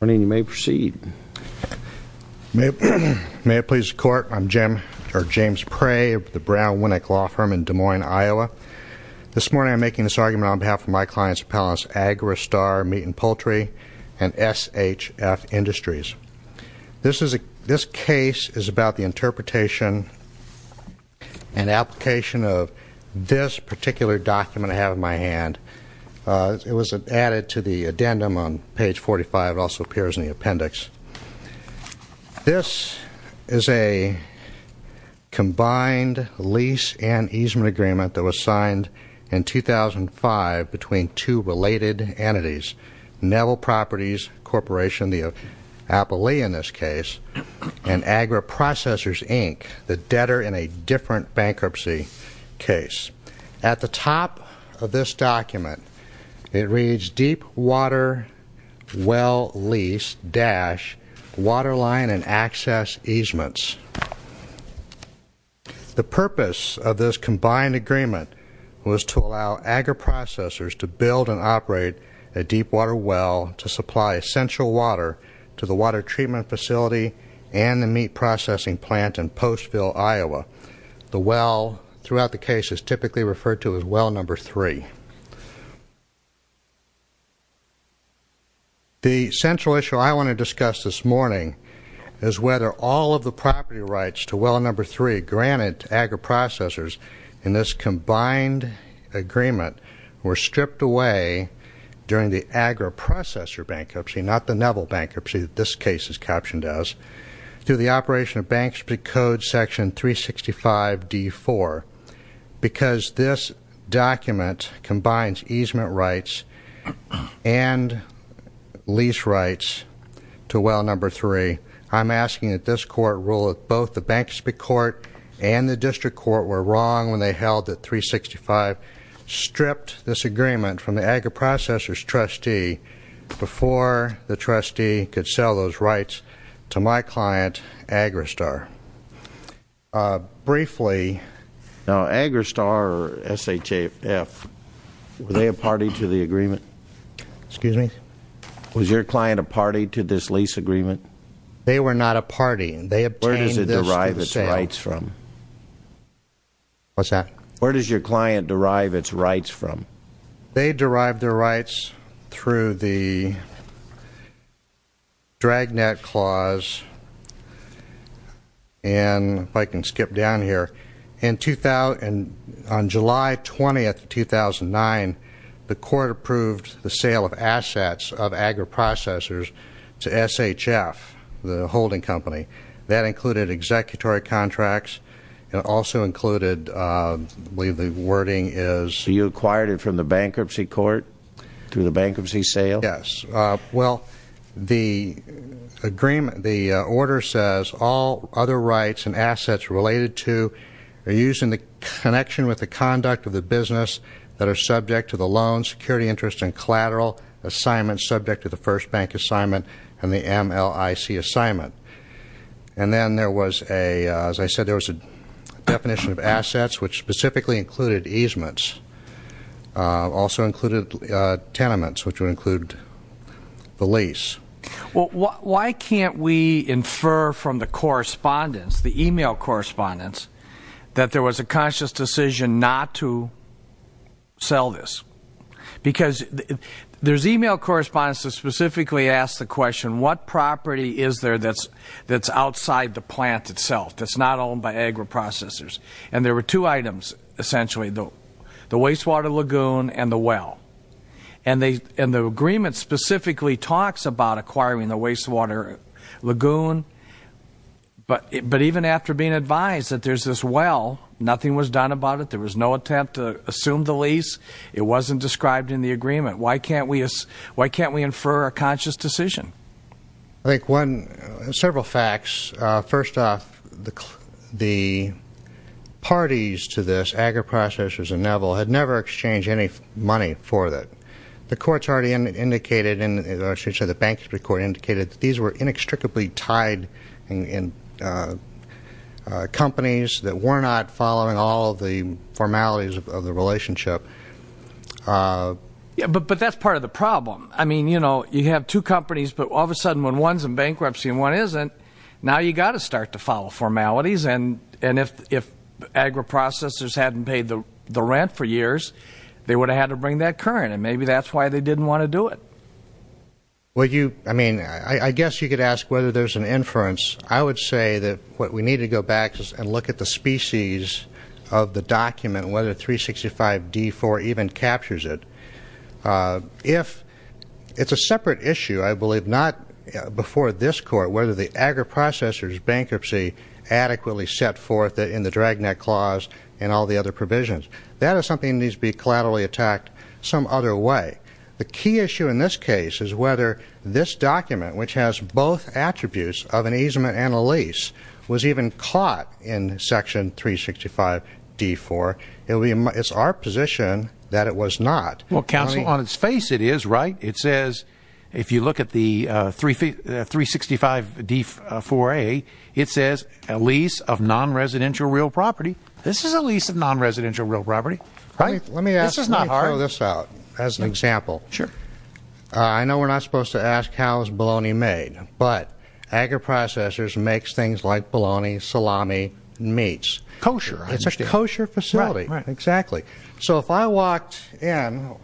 Good morning. You may proceed. May it please the Court, I'm James Pray of the Brown Winnick Law Firm in Des Moines, Iowa. This morning I'm making this argument on behalf of my client's appellants Agri Star Meat & Poultry and SHF Industries. This case is about the interpretation and application of this particular document I have in my hand. It was added to the addendum on page 45. It also appears in the appendix. This is a combined lease and easement agreement that was signed in 2005 between two related entities, Nevel Properties Corporation, the Appellee in this case, and AgriProcessors, Inc., the debtor in a different bankruptcy case. At the top of this document it reads, Deep Water Well Lease-Waterline and Access Easements. The purpose of this combined agreement was to allow AgriProcessors to build and operate a deep water well to supply essential water to the water treatment facility and the meat processing plant in Postville, Iowa. The well throughout the case is typically referred to as well number three. The central issue I want to discuss this morning is whether all of the property rights to well number three granted to AgriProcessors in this combined agreement were stripped away during the AgriProcessor bankruptcy, not the Nevel bankruptcy that this case is captioned as, through the operation of bankruptcy code section 365D4. Because this document combines easement rights and lease rights to well number three, I'm asking that this court rule that both the bankruptcy court and the district court were wrong when they held that 365 stripped this agreement from the AgriProcessors trustee before the trustee could sell those rights to my client, Agristar. Briefly... Now, Agristar, or S-H-A-F, were they a party to the agreement? Excuse me? Was your client a party to this lease agreement? They were not a party. They obtained this through the sale. Where does it derive its rights from? What's that? Where does your client derive its rights from? They derived their rights through the Dragnet Clause, and if I can skip down here, on July 20th, 2009, the court approved the sale of assets of AgriProcessors to S-H-F, the holding company. That included executory contracts and also included, I believe the wording is... You acquired it from the bankruptcy court through the bankruptcy sale? Yes. Well, the agreement, the order says, all other rights and assets related to or used in the connection with the conduct of the business that are subject to the loan, and collateral assignments subject to the first bank assignment and the MLIC assignment. And then there was a, as I said, there was a definition of assets, which specifically included easements. Also included tenements, which would include the lease. Well, why can't we infer from the correspondence, the email correspondence, that there was a conscious decision not to sell this? Because there's email correspondence that specifically asks the question, what property is there that's outside the plant itself, that's not owned by AgriProcessors? And there were two items, essentially, the wastewater lagoon and the well. And the agreement specifically talks about acquiring the wastewater lagoon. But even after being advised that there's this well, nothing was done about it. There was no attempt to assume the lease. It wasn't described in the agreement. Why can't we infer a conscious decision? I think one, several facts. First off, the parties to this, AgriProcessors and Neville, had never exchanged any money for it. The courts already indicated, or I should say the bankruptcy court indicated, that these were inextricably tied companies that were not following all of the formalities of the relationship. I mean, you know, you have two companies, but all of a sudden, when one's in bankruptcy and one isn't, now you've got to start to follow formalities. And if AgriProcessors hadn't paid the rent for years, they would have had to bring that current. And maybe that's why they didn't want to do it. Well, you, I mean, I guess you could ask whether there's an inference. I would say that what we need to go back and look at the species of the document, whether 365-D4 even captures it. If it's a separate issue, I believe not before this court, whether the AgriProcessors bankruptcy adequately set forth in the drag net clause and all the other provisions. That is something that needs to be collaterally attacked some other way. The key issue in this case is whether this document, which has both attributes of an easement and a lease, was even caught in Section 365-D4. It's our position that it was not. Well, counsel, on its face it is, right? It says, if you look at the 365-D4A, it says a lease of non-residential real property. This is a lease of non-residential real property. Right? Let me throw this out as an example. Sure. I know we're not supposed to ask how is bologna made, but AgriProcessors makes things like bologna, salami, meats. Kosher. It's a kosher facility. Right, right. Exactly. So if I walked in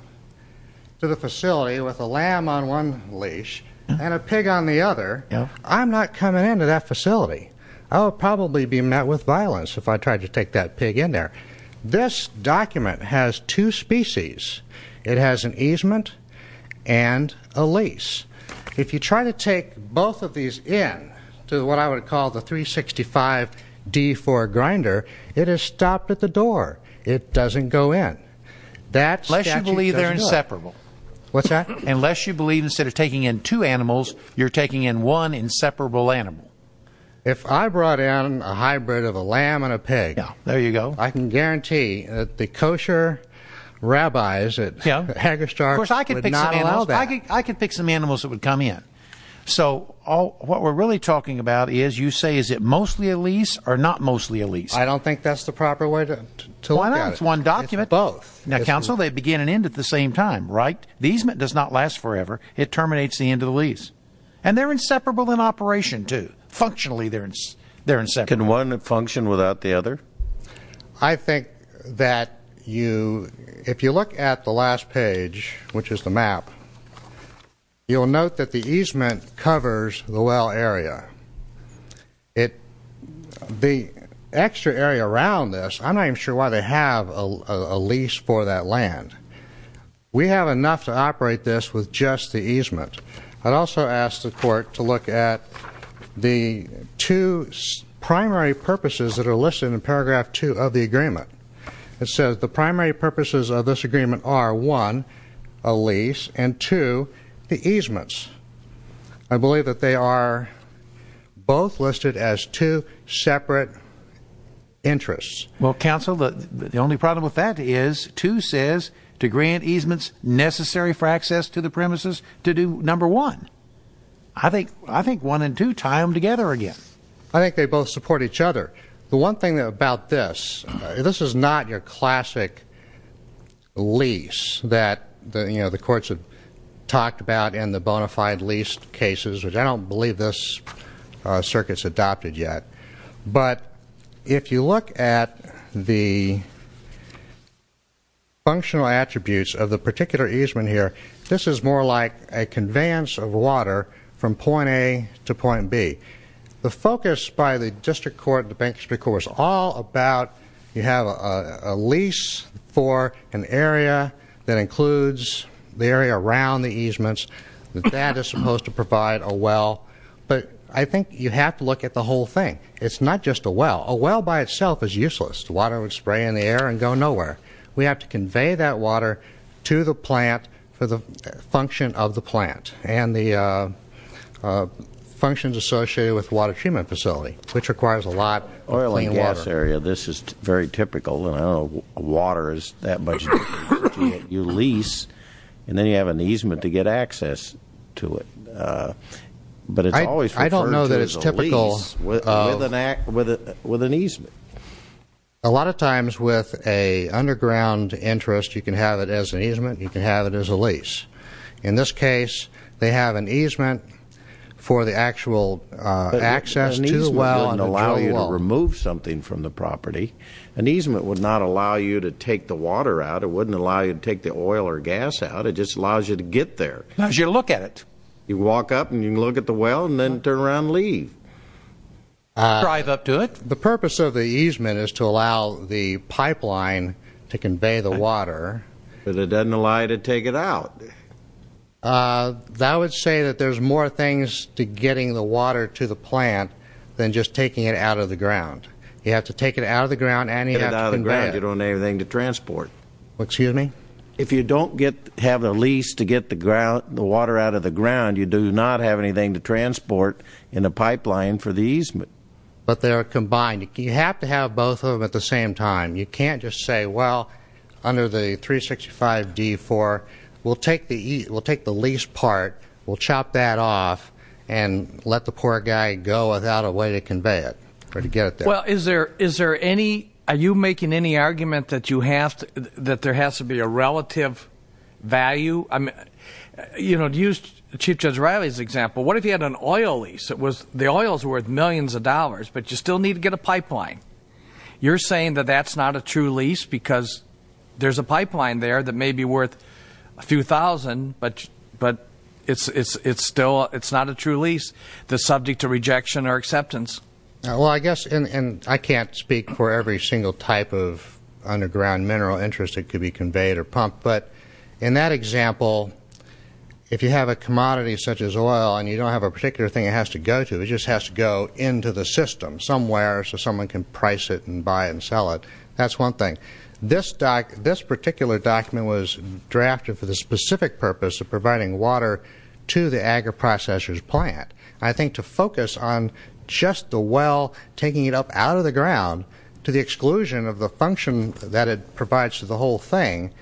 to the facility with a lamb on one leash and a pig on the other, I'm not coming into that facility. I would probably be met with violence if I tried to take that pig in there. This document has two species. It has an easement and a lease. If you try to take both of these in to what I would call the 365-D4 grinder, it is stopped at the door. It doesn't go in. Unless you believe they're inseparable. What's that? Unless you believe instead of taking in two animals, you're taking in one inseparable animal. If I brought in a hybrid of a lamb and a pig, I can guarantee that the kosher rabbis at Hagerstark would not allow that. Of course, I could pick some animals that would come in. So what we're really talking about is you say is it mostly a lease or not mostly a lease? I don't think that's the proper way to look at it. Why not? It's one document. It's both. Now, counsel, they begin and end at the same time, right? The easement does not last forever. It terminates the end of the lease. And they're inseparable in operation, too. Functionally, they're inseparable. Can one function without the other? I think that if you look at the last page, which is the map, you'll note that the easement covers the well area. The extra area around this, I'm not even sure why they have a lease for that land. We have enough to operate this with just the easement. I'd also ask the court to look at the two primary purposes that are listed in paragraph 2 of the agreement. It says the primary purposes of this agreement are, one, a lease, and, two, the easements. I believe that they are both listed as two separate interests. Well, counsel, the only problem with that is 2 says to grant easements necessary for access to the premises to do number 1. I think 1 and 2 tie them together again. I think they both support each other. The one thing about this, this is not your classic lease that, you know, the courts have talked about in the bona fide lease cases, which I don't believe this circuit's adopted yet. But if you look at the functional attributes of the particular easement here, this is more like a conveyance of water from point A to point B. The focus by the district court, the bank district court, is all about you have a lease for an area that includes the area around the easements that that is supposed to provide a well. But I think you have to look at the whole thing. It's not just a well. A well by itself is useless. Water would spray in the air and go nowhere. We have to convey that water to the plant for the function of the plant, and the functions associated with the water treatment facility, which requires a lot of clean water. Oil and gas area, this is very typical. I don't know if water is that much different. You lease, and then you have an easement to get access to it. But it's always referred to as a lease with an easement. A lot of times with an underground interest, you can have it as an easement, you can have it as a lease. In this case, they have an easement for the actual access to the well. An easement wouldn't allow you to remove something from the property. An easement would not allow you to take the water out. It wouldn't allow you to take the oil or gas out. It just allows you to get there. It allows you to look at it. You walk up, and you can look at the well, and then turn around and leave. Drive up to it. The purpose of the easement is to allow the pipeline to convey the water. But it doesn't allow you to take it out. I would say that there's more things to getting the water to the plant than just taking it out of the ground. You have to take it out of the ground, and you have to convey it. You don't have anything to transport. Excuse me? If you don't have the lease to get the water out of the ground, you do not have anything to transport in the pipeline for the easement. But they're combined. You have to have both of them at the same time. You can't just say, well, under the 365-D4, we'll take the lease part, we'll chop that off, and let the poor guy go without a way to convey it or to get it there. Well, are you making any argument that there has to be a relative value? Use Chief Judge Riley's example. What if you had an oil lease? The oil is worth millions of dollars, but you still need to get a pipeline. You're saying that that's not a true lease because there's a pipeline there that may be worth a few thousand, but it's not a true lease that's subject to rejection or acceptance. Well, I guess, and I can't speak for every single type of underground mineral interest that could be conveyed or pumped, but in that example, if you have a commodity such as oil and you don't have a particular thing it has to go to, it just has to go into the system somewhere so someone can price it and buy it and sell it, that's one thing. This particular document was drafted for the specific purpose of providing water to the agri-processor's plant. I think to focus on just the well taking it up out of the ground to the exclusion of the function that it provides to the whole thing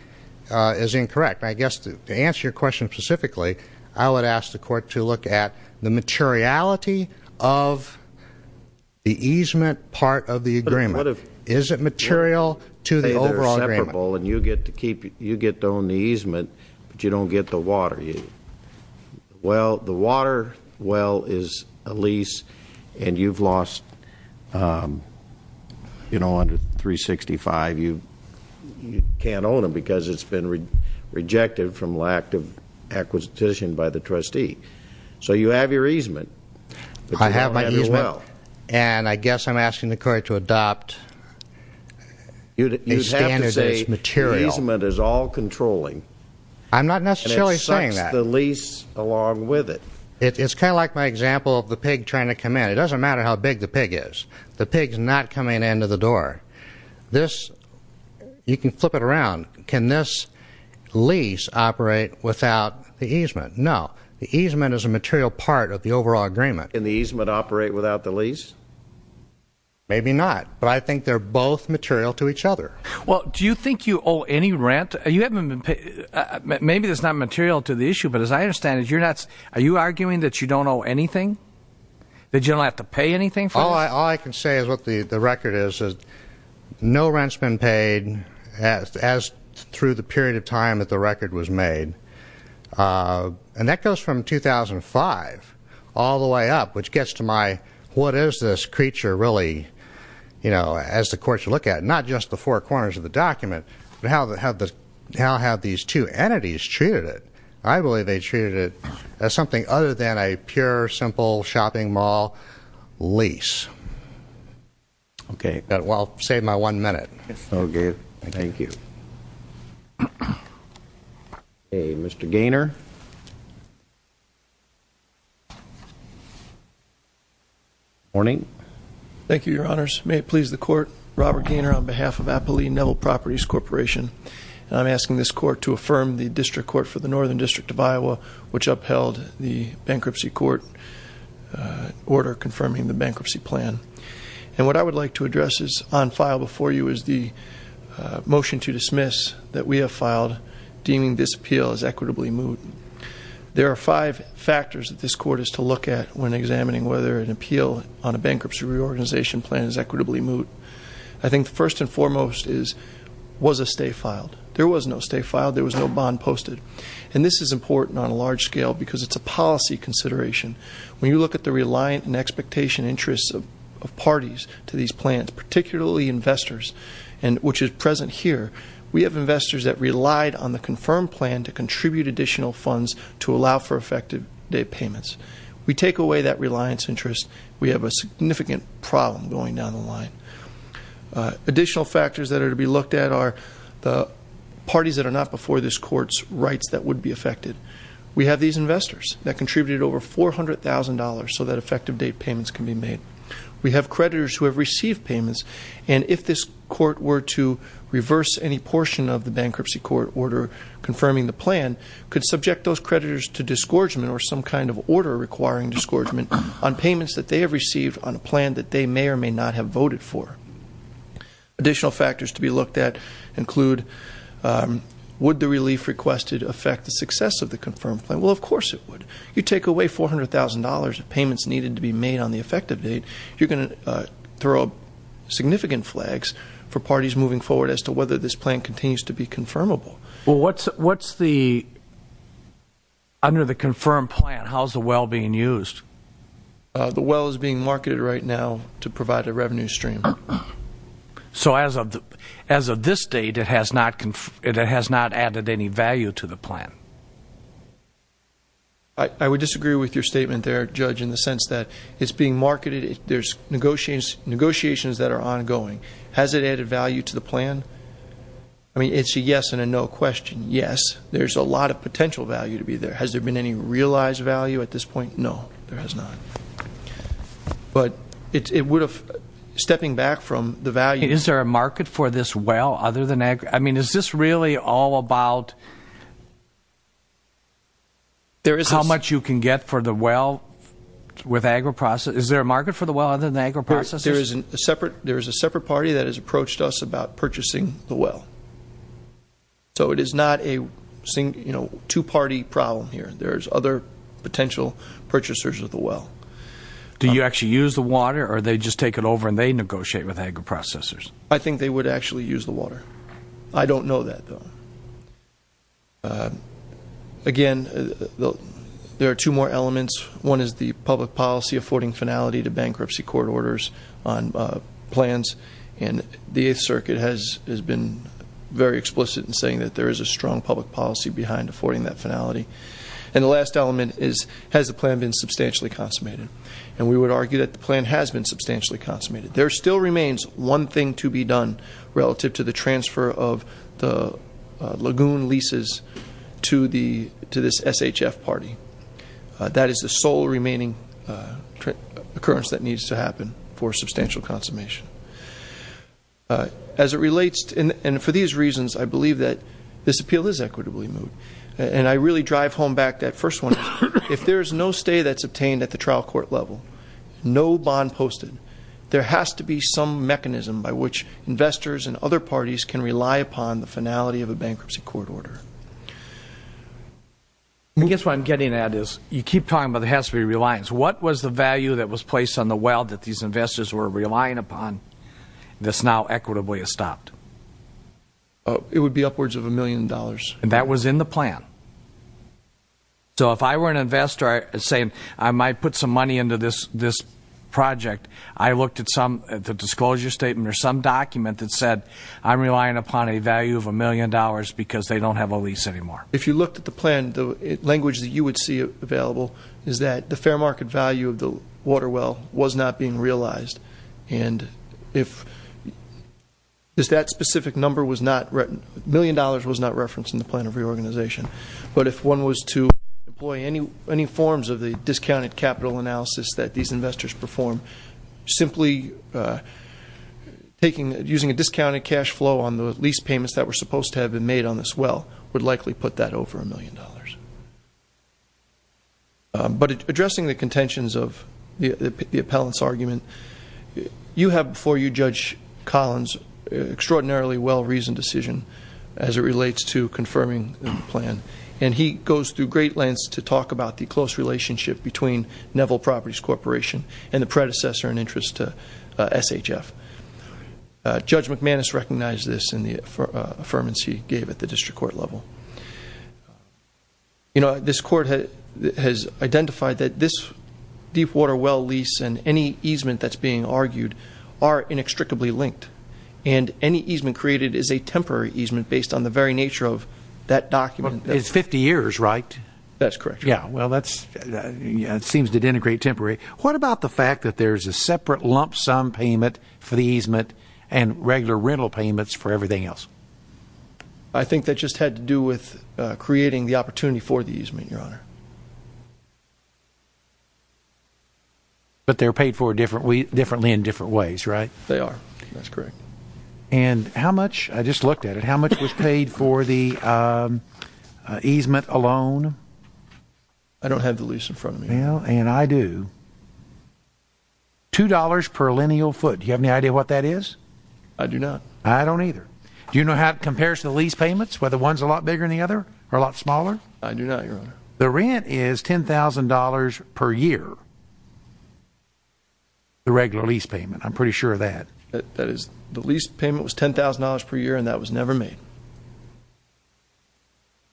is incorrect. I guess to answer your question specifically, I would ask the court to look at the materiality of the easement part of the agreement. Is it material to the overall agreement? Say they're separable and you get to own the easement, but you don't get the water. Well, the water well is a lease and you've lost, you know, under 365, you can't own it because it's been rejected from lack of acquisition by the trustee. So you have your easement, but you don't have your well. I have my easement, and I guess I'm asking the court to adopt a standard that's material. You'd have to say the easement is all controlling. I'm not necessarily saying that. And it sucks the lease along with it. It's kind of like my example of the pig trying to come in. It doesn't matter how big the pig is. The pig's not coming in to the door. This, you can flip it around. Can this lease operate without the easement? No. The easement is a material part of the overall agreement. Can the easement operate without the lease? Maybe not, but I think they're both material to each other. Well, do you think you owe any rent? Maybe it's not material to the issue, but as I understand it, are you arguing that you don't owe anything? That you don't have to pay anything for this? All I can say is what the record is is no rent's been paid as through the period of time that the record was made. And that goes from 2005 all the way up, which gets to my what is this creature really, you know, as the courts look at it, not just the four corners of the document, but how have these two entities treated it? I believe they treated it as something other than a pure, simple shopping mall lease. Okay. Well, I'll save my one minute. Okay. Thank you. Okay, Mr. Gaynor. Good morning. Thank you, Your Honors. May it please the Court, Robert Gaynor on behalf of Appali Neville Properties Corporation, and I'm asking this Court to affirm the District Court for the Northern District of Iowa, which upheld the bankruptcy court order confirming the bankruptcy plan. And what I would like to address on file before you is the motion to dismiss that we have filed deeming this appeal as equitably moot. There are five factors that this Court is to look at when examining whether an appeal on a bankruptcy reorganization plan is equitably moot. I think first and foremost is was a stay filed. There was no stay filed. There was no bond posted. And this is important on a large scale because it's a policy consideration. When you look at the reliant and expectation interests of parties to these plans, particularly investors, which is present here, we have investors that relied on the confirmed plan to contribute additional funds to allow for effective payments. We take away that reliance interest. We have a significant problem going down the line. Additional factors that are to be looked at are the parties that are not before this Court's rights that would be affected. We have these investors that contributed over $400,000 so that effective date payments can be made. We have creditors who have received payments, and if this Court were to reverse any portion of the bankruptcy court order confirming the plan, could subject those creditors to disgorgement or some kind of order requiring disgorgement on payments that they have received on a plan that they may or may not have voted for. Additional factors to be looked at include would the relief requested affect the success of the confirmed plan? Well, of course it would. You take away $400,000 of payments needed to be made on the effective date, you're going to throw significant flags for parties moving forward as to whether this plan continues to be confirmable. Well, what's the, under the confirmed plan, how's the well being used? The well is being marketed right now to provide a revenue stream. So as of this date, it has not added any value to the plan? I would disagree with your statement there, Judge, in the sense that it's being marketed, there's negotiations that are ongoing. Has it added value to the plan? I mean, it's a yes and a no question. Yes, there's a lot of potential value to be there. Has there been any realized value at this point? No, there has not. But it would have, stepping back from the value Is there a market for this well other than agro? I mean, is this really all about how much you can get for the well with agro processes? Is there a market for the well other than agro processes? There is a separate party that has approached us about purchasing the well. So it is not a two-party problem here. There's other potential purchasers of the well. Do you actually use the water, or they just take it over and they negotiate with agro processors? I think they would actually use the water. I don't know that, though. Again, there are two more elements. One is the public policy affording finality to bankruptcy court orders on plans. And the Eighth Circuit has been very explicit in saying that there is a strong public policy behind affording that finality. And the last element is, has the plan been substantially consummated? And we would argue that the plan has been substantially consummated. There still remains one thing to be done relative to the transfer of the lagoon leases to this SHF party. That is the sole remaining occurrence that needs to happen for substantial consummation. As it relates, and for these reasons, I believe that this appeal is equitably moved. And I really drive home back that first one. If there is no stay that's obtained at the trial court level, no bond posted, there has to be some mechanism by which investors and other parties can rely upon the finality of a bankruptcy court order. I guess what I'm getting at is you keep talking about there has to be reliance. What was the value that was placed on the well that these investors were relying upon that's now equitably estopped? It would be upwards of a million dollars. And that was in the plan. So if I were an investor saying I might put some money into this project, I looked at the disclosure statement or some document that said I'm relying upon a value of a million dollars because they don't have a lease anymore. If you looked at the plan, the language that you would see available is that the fair market value of the water well was not being realized. And if that specific number was not written, a million dollars was not referenced in the plan of reorganization. But if one was to employ any forms of the discounted capital analysis that these investors perform, simply using a discounted cash flow on the lease payments that were supposed to have been made on this well would likely put that over a million dollars. But addressing the contentions of the appellant's argument, you have before you, Judge Collins, extraordinarily well-reasoned decision as it relates to confirming the plan. And he goes through great lengths to talk about the close relationship between Neville Properties Corporation and the predecessor in interest to SHF. Judge McManus recognized this in the affirmance he gave at the district court level. You know, this court has identified that this deep water well lease and any easement that's being argued are inextricably linked. And any easement created is a temporary easement based on the very nature of that document. It's 50 years, right? That's correct, Your Honor. Yeah, well, that seems to denigrate temporary. What about the fact that there's a separate lump sum payment for the easement and regular rental payments for everything else? I think that just had to do with creating the opportunity for the easement, Your Honor. But they're paid for differently in different ways, right? They are. That's correct. And how much, I just looked at it, how much was paid for the easement alone? I don't have the lease in front of me. Well, and I do. $2 per lineal foot. Do you have any idea what that is? I do not. I don't either. Do you know how it compares to the lease payments, whether one's a lot bigger than the other or a lot smaller? I do not, Your Honor. The rent is $10,000 per year. The regular lease payment, I'm pretty sure of that. That is, the lease payment was $10,000 per year, and that was never made.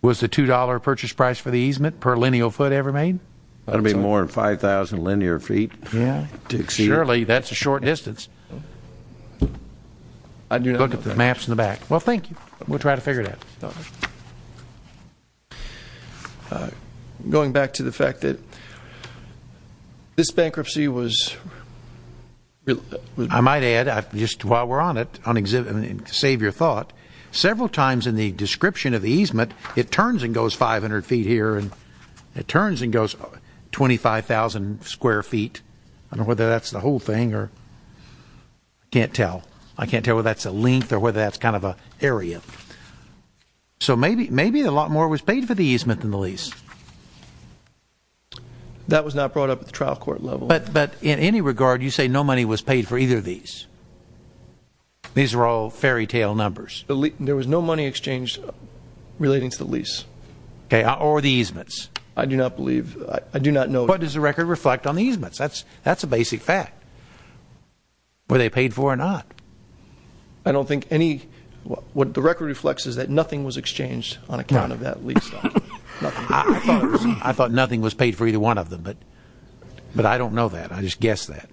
Was the $2 purchase price for the easement per lineal foot ever made? That would be more than 5,000 lineal feet. Yeah. Surely, that's a short distance. I do not know that. Look at the maps in the back. Well, thank you. We'll try to figure it out. Going back to the fact that this bankruptcy was I might add, just while we're on it, to save your thought, several times in the description of the easement, it turns and goes 500 feet here, and it turns and goes 25,000 square feet. I don't know whether that's the whole thing, or I can't tell. I can't tell whether that's a length or whether that's kind of an area. So maybe a lot more was paid for the easement than the lease. That was not brought up at the trial court level. But in any regard, you say no money was paid for either of these. These are all fairytale numbers. There was no money exchanged relating to the lease. Okay, or the easements. I do not believe. I do not know. What does the record reflect on the easements? That's a basic fact. Were they paid for or not? I don't think any. What the record reflects is that nothing was exchanged on account of that lease. I thought nothing was paid for either one of them, but I don't know that. I just guessed that.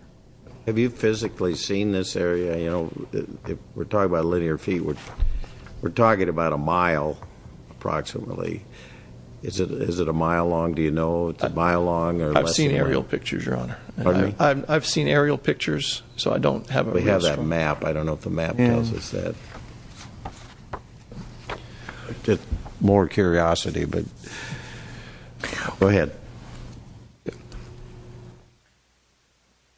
Have you physically seen this area? We're talking about linear feet. We're talking about a mile approximately. Is it a mile long? Do you know it's a mile long? I've seen aerial pictures, Your Honor. Pardon me? I've seen aerial pictures, so I don't have a restaurant. We have that map. I don't know if the map tells us that. More curiosity, but go ahead.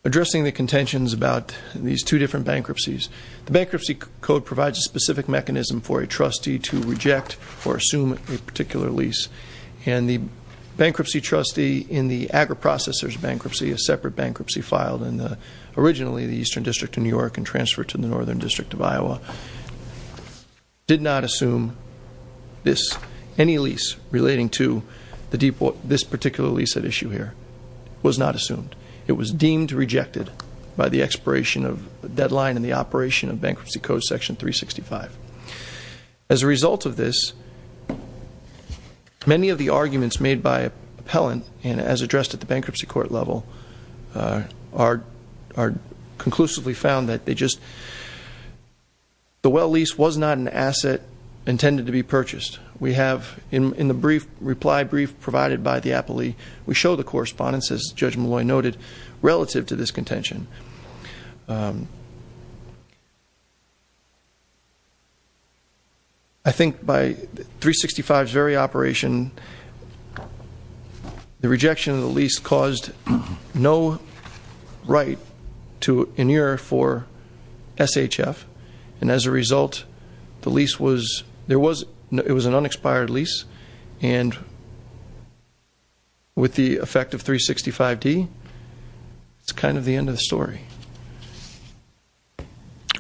Addressing the contentions about these two different bankruptcies, the Bankruptcy Code provides a specific mechanism for a trustee to reject or assume a particular lease, and the bankruptcy trustee in the agri-processors bankruptcy, a separate bankruptcy filed in originally the Eastern District of New York and transferred to the Northern District of Iowa, did not assume any lease relating to this particular lease at issue here. It was not assumed. It was deemed rejected by the expiration of the deadline in the operation of Bankruptcy Code Section 365. As a result of this, many of the arguments made by appellant, and as addressed at the bankruptcy court level, are conclusively found that they just, the well lease was not an asset intended to be purchased. We have in the brief reply brief provided by the appellee, we show the correspondence, as Judge Malloy noted, relative to this contention. I think by 365's very operation, the rejection of the lease caused no right to an ear for SHF, and as a result, the lease was, there was, it was an unexpired lease, and with the effect of 365D, it's kind of the end of the story.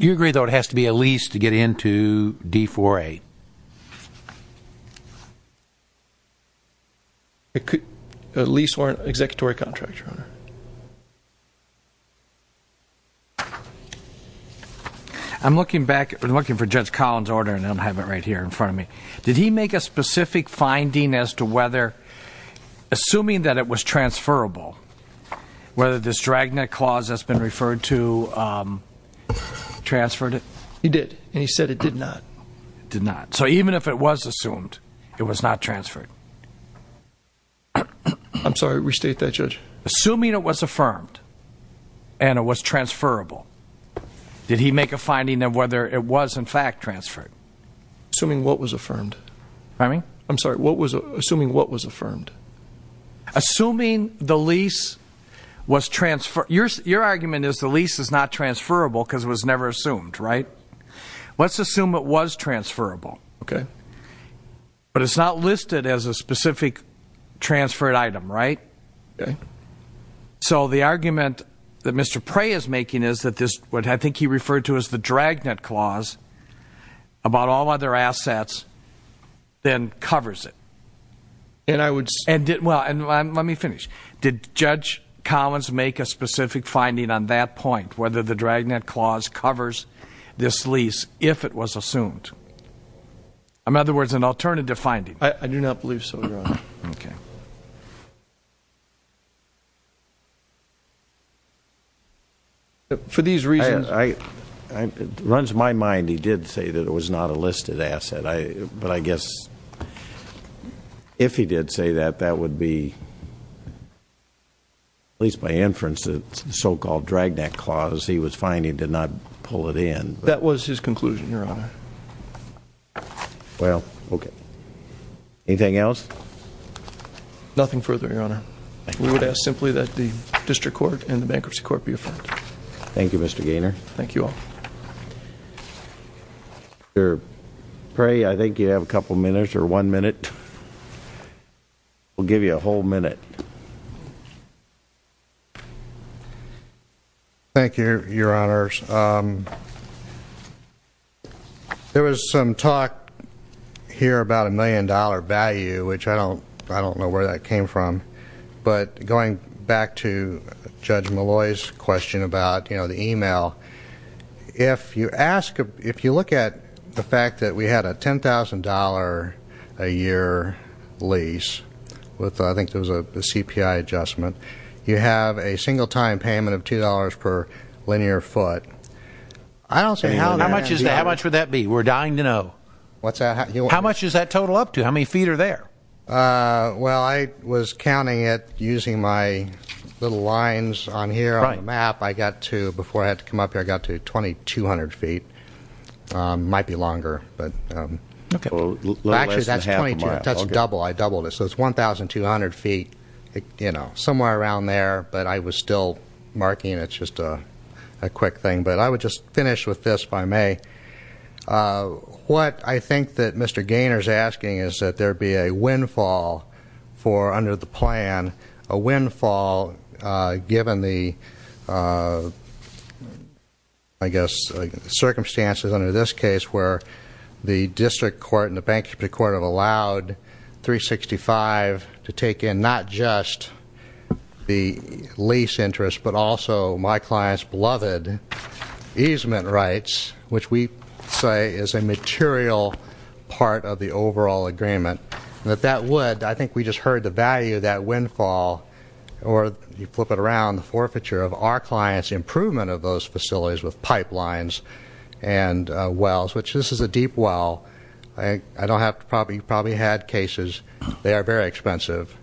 You agree, though, it has to be a lease to get into D4A? A lease or an executory contract, Your Honor. I'm looking back, I'm looking for Judge Collins' order, and I have it right here in front of me. Did he make a specific finding as to whether, assuming that it was transferable, whether this dragnet clause that's been referred to transferred it? He did, and he said it did not. It did not. So even if it was assumed, it was not transferred. I'm sorry, restate that, Judge. Assuming it was affirmed and it was transferable, did he make a finding of whether it was, in fact, transferred? Assuming what was affirmed? Pardon me? I'm sorry, assuming what was affirmed? Assuming the lease was transferable. Your argument is the lease is not transferable because it was never assumed, right? Let's assume it was transferable. Okay. But it's not listed as a specific transferred item, right? Okay. So the argument that Mr. Prey is making is that this, what I think he referred to as the dragnet clause about all other assets, then covers it. And I would say that. Well, and let me finish. Did Judge Collins make a specific finding on that point, whether the dragnet clause covers this lease if it was assumed? In other words, an alternative finding. I do not believe so, Your Honor. Okay. For these reasons. It runs my mind he did say that it was not a listed asset. But I guess if he did say that, that would be, at least by inference, the so-called dragnet clause he was finding did not pull it in. That was his conclusion, Your Honor. Well, okay. Anything else? Nothing further, Your Honor. We would ask simply that the district court and the bankruptcy court be affirmed. Thank you, Mr. Gaynor. Thank you all. Mr. Pray, I think you have a couple minutes or one minute. We'll give you a whole minute. Thank you, Your Honors. There was some talk here about a million-dollar value, which I don't know where that came from. But going back to Judge Malloy's question about the e-mail, if you look at the fact that we had a $10,000-a-year lease with, I think it was a CPI adjustment, you have a single-time payment of $2 per linear foot. How much would that be? We're dying to know. How much is that total up to? How many feet are there? Well, I was counting it using my little lines on here on the map. I got to, before I had to come up here, I got to 2,200 feet. It might be longer. Actually, that's double. I doubled it. So it's 1,200 feet, somewhere around there. But I was still marking. It's just a quick thing. But I would just finish with this, if I may. What I think that Mr. Gaynor is asking is that there be a windfall for under the plan, a windfall given the, I guess, circumstances under this case where the district court and the bankruptcy court have allowed 365 to take in not just the lease interest but also my client's beloved easement rights, which we say is a material part of the overall agreement. And if that would, I think we just heard the value of that windfall, or you flip it around, the forfeiture of our client's improvement of those facilities with pipelines and wells, which this is a deep well. You probably had cases. They are very expensive.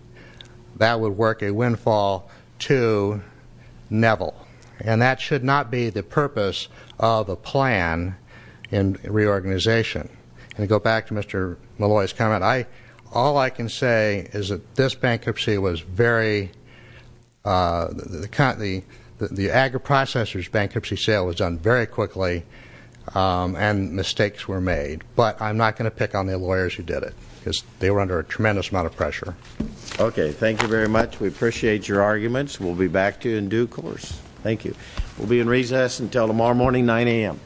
That would work a windfall to Neville. And that should not be the purpose of a plan in reorganization. And to go back to Mr. Malloy's comment, all I can say is that this bankruptcy was very, the agri-processor's bankruptcy sale was done very quickly and mistakes were made. But I'm not going to pick on the lawyers who did it because they were under a tremendous amount of pressure. Okay. Thank you very much. We appreciate your arguments. We'll be back to you in due course. Thank you. We'll be in recess until tomorrow morning, 9 a.m.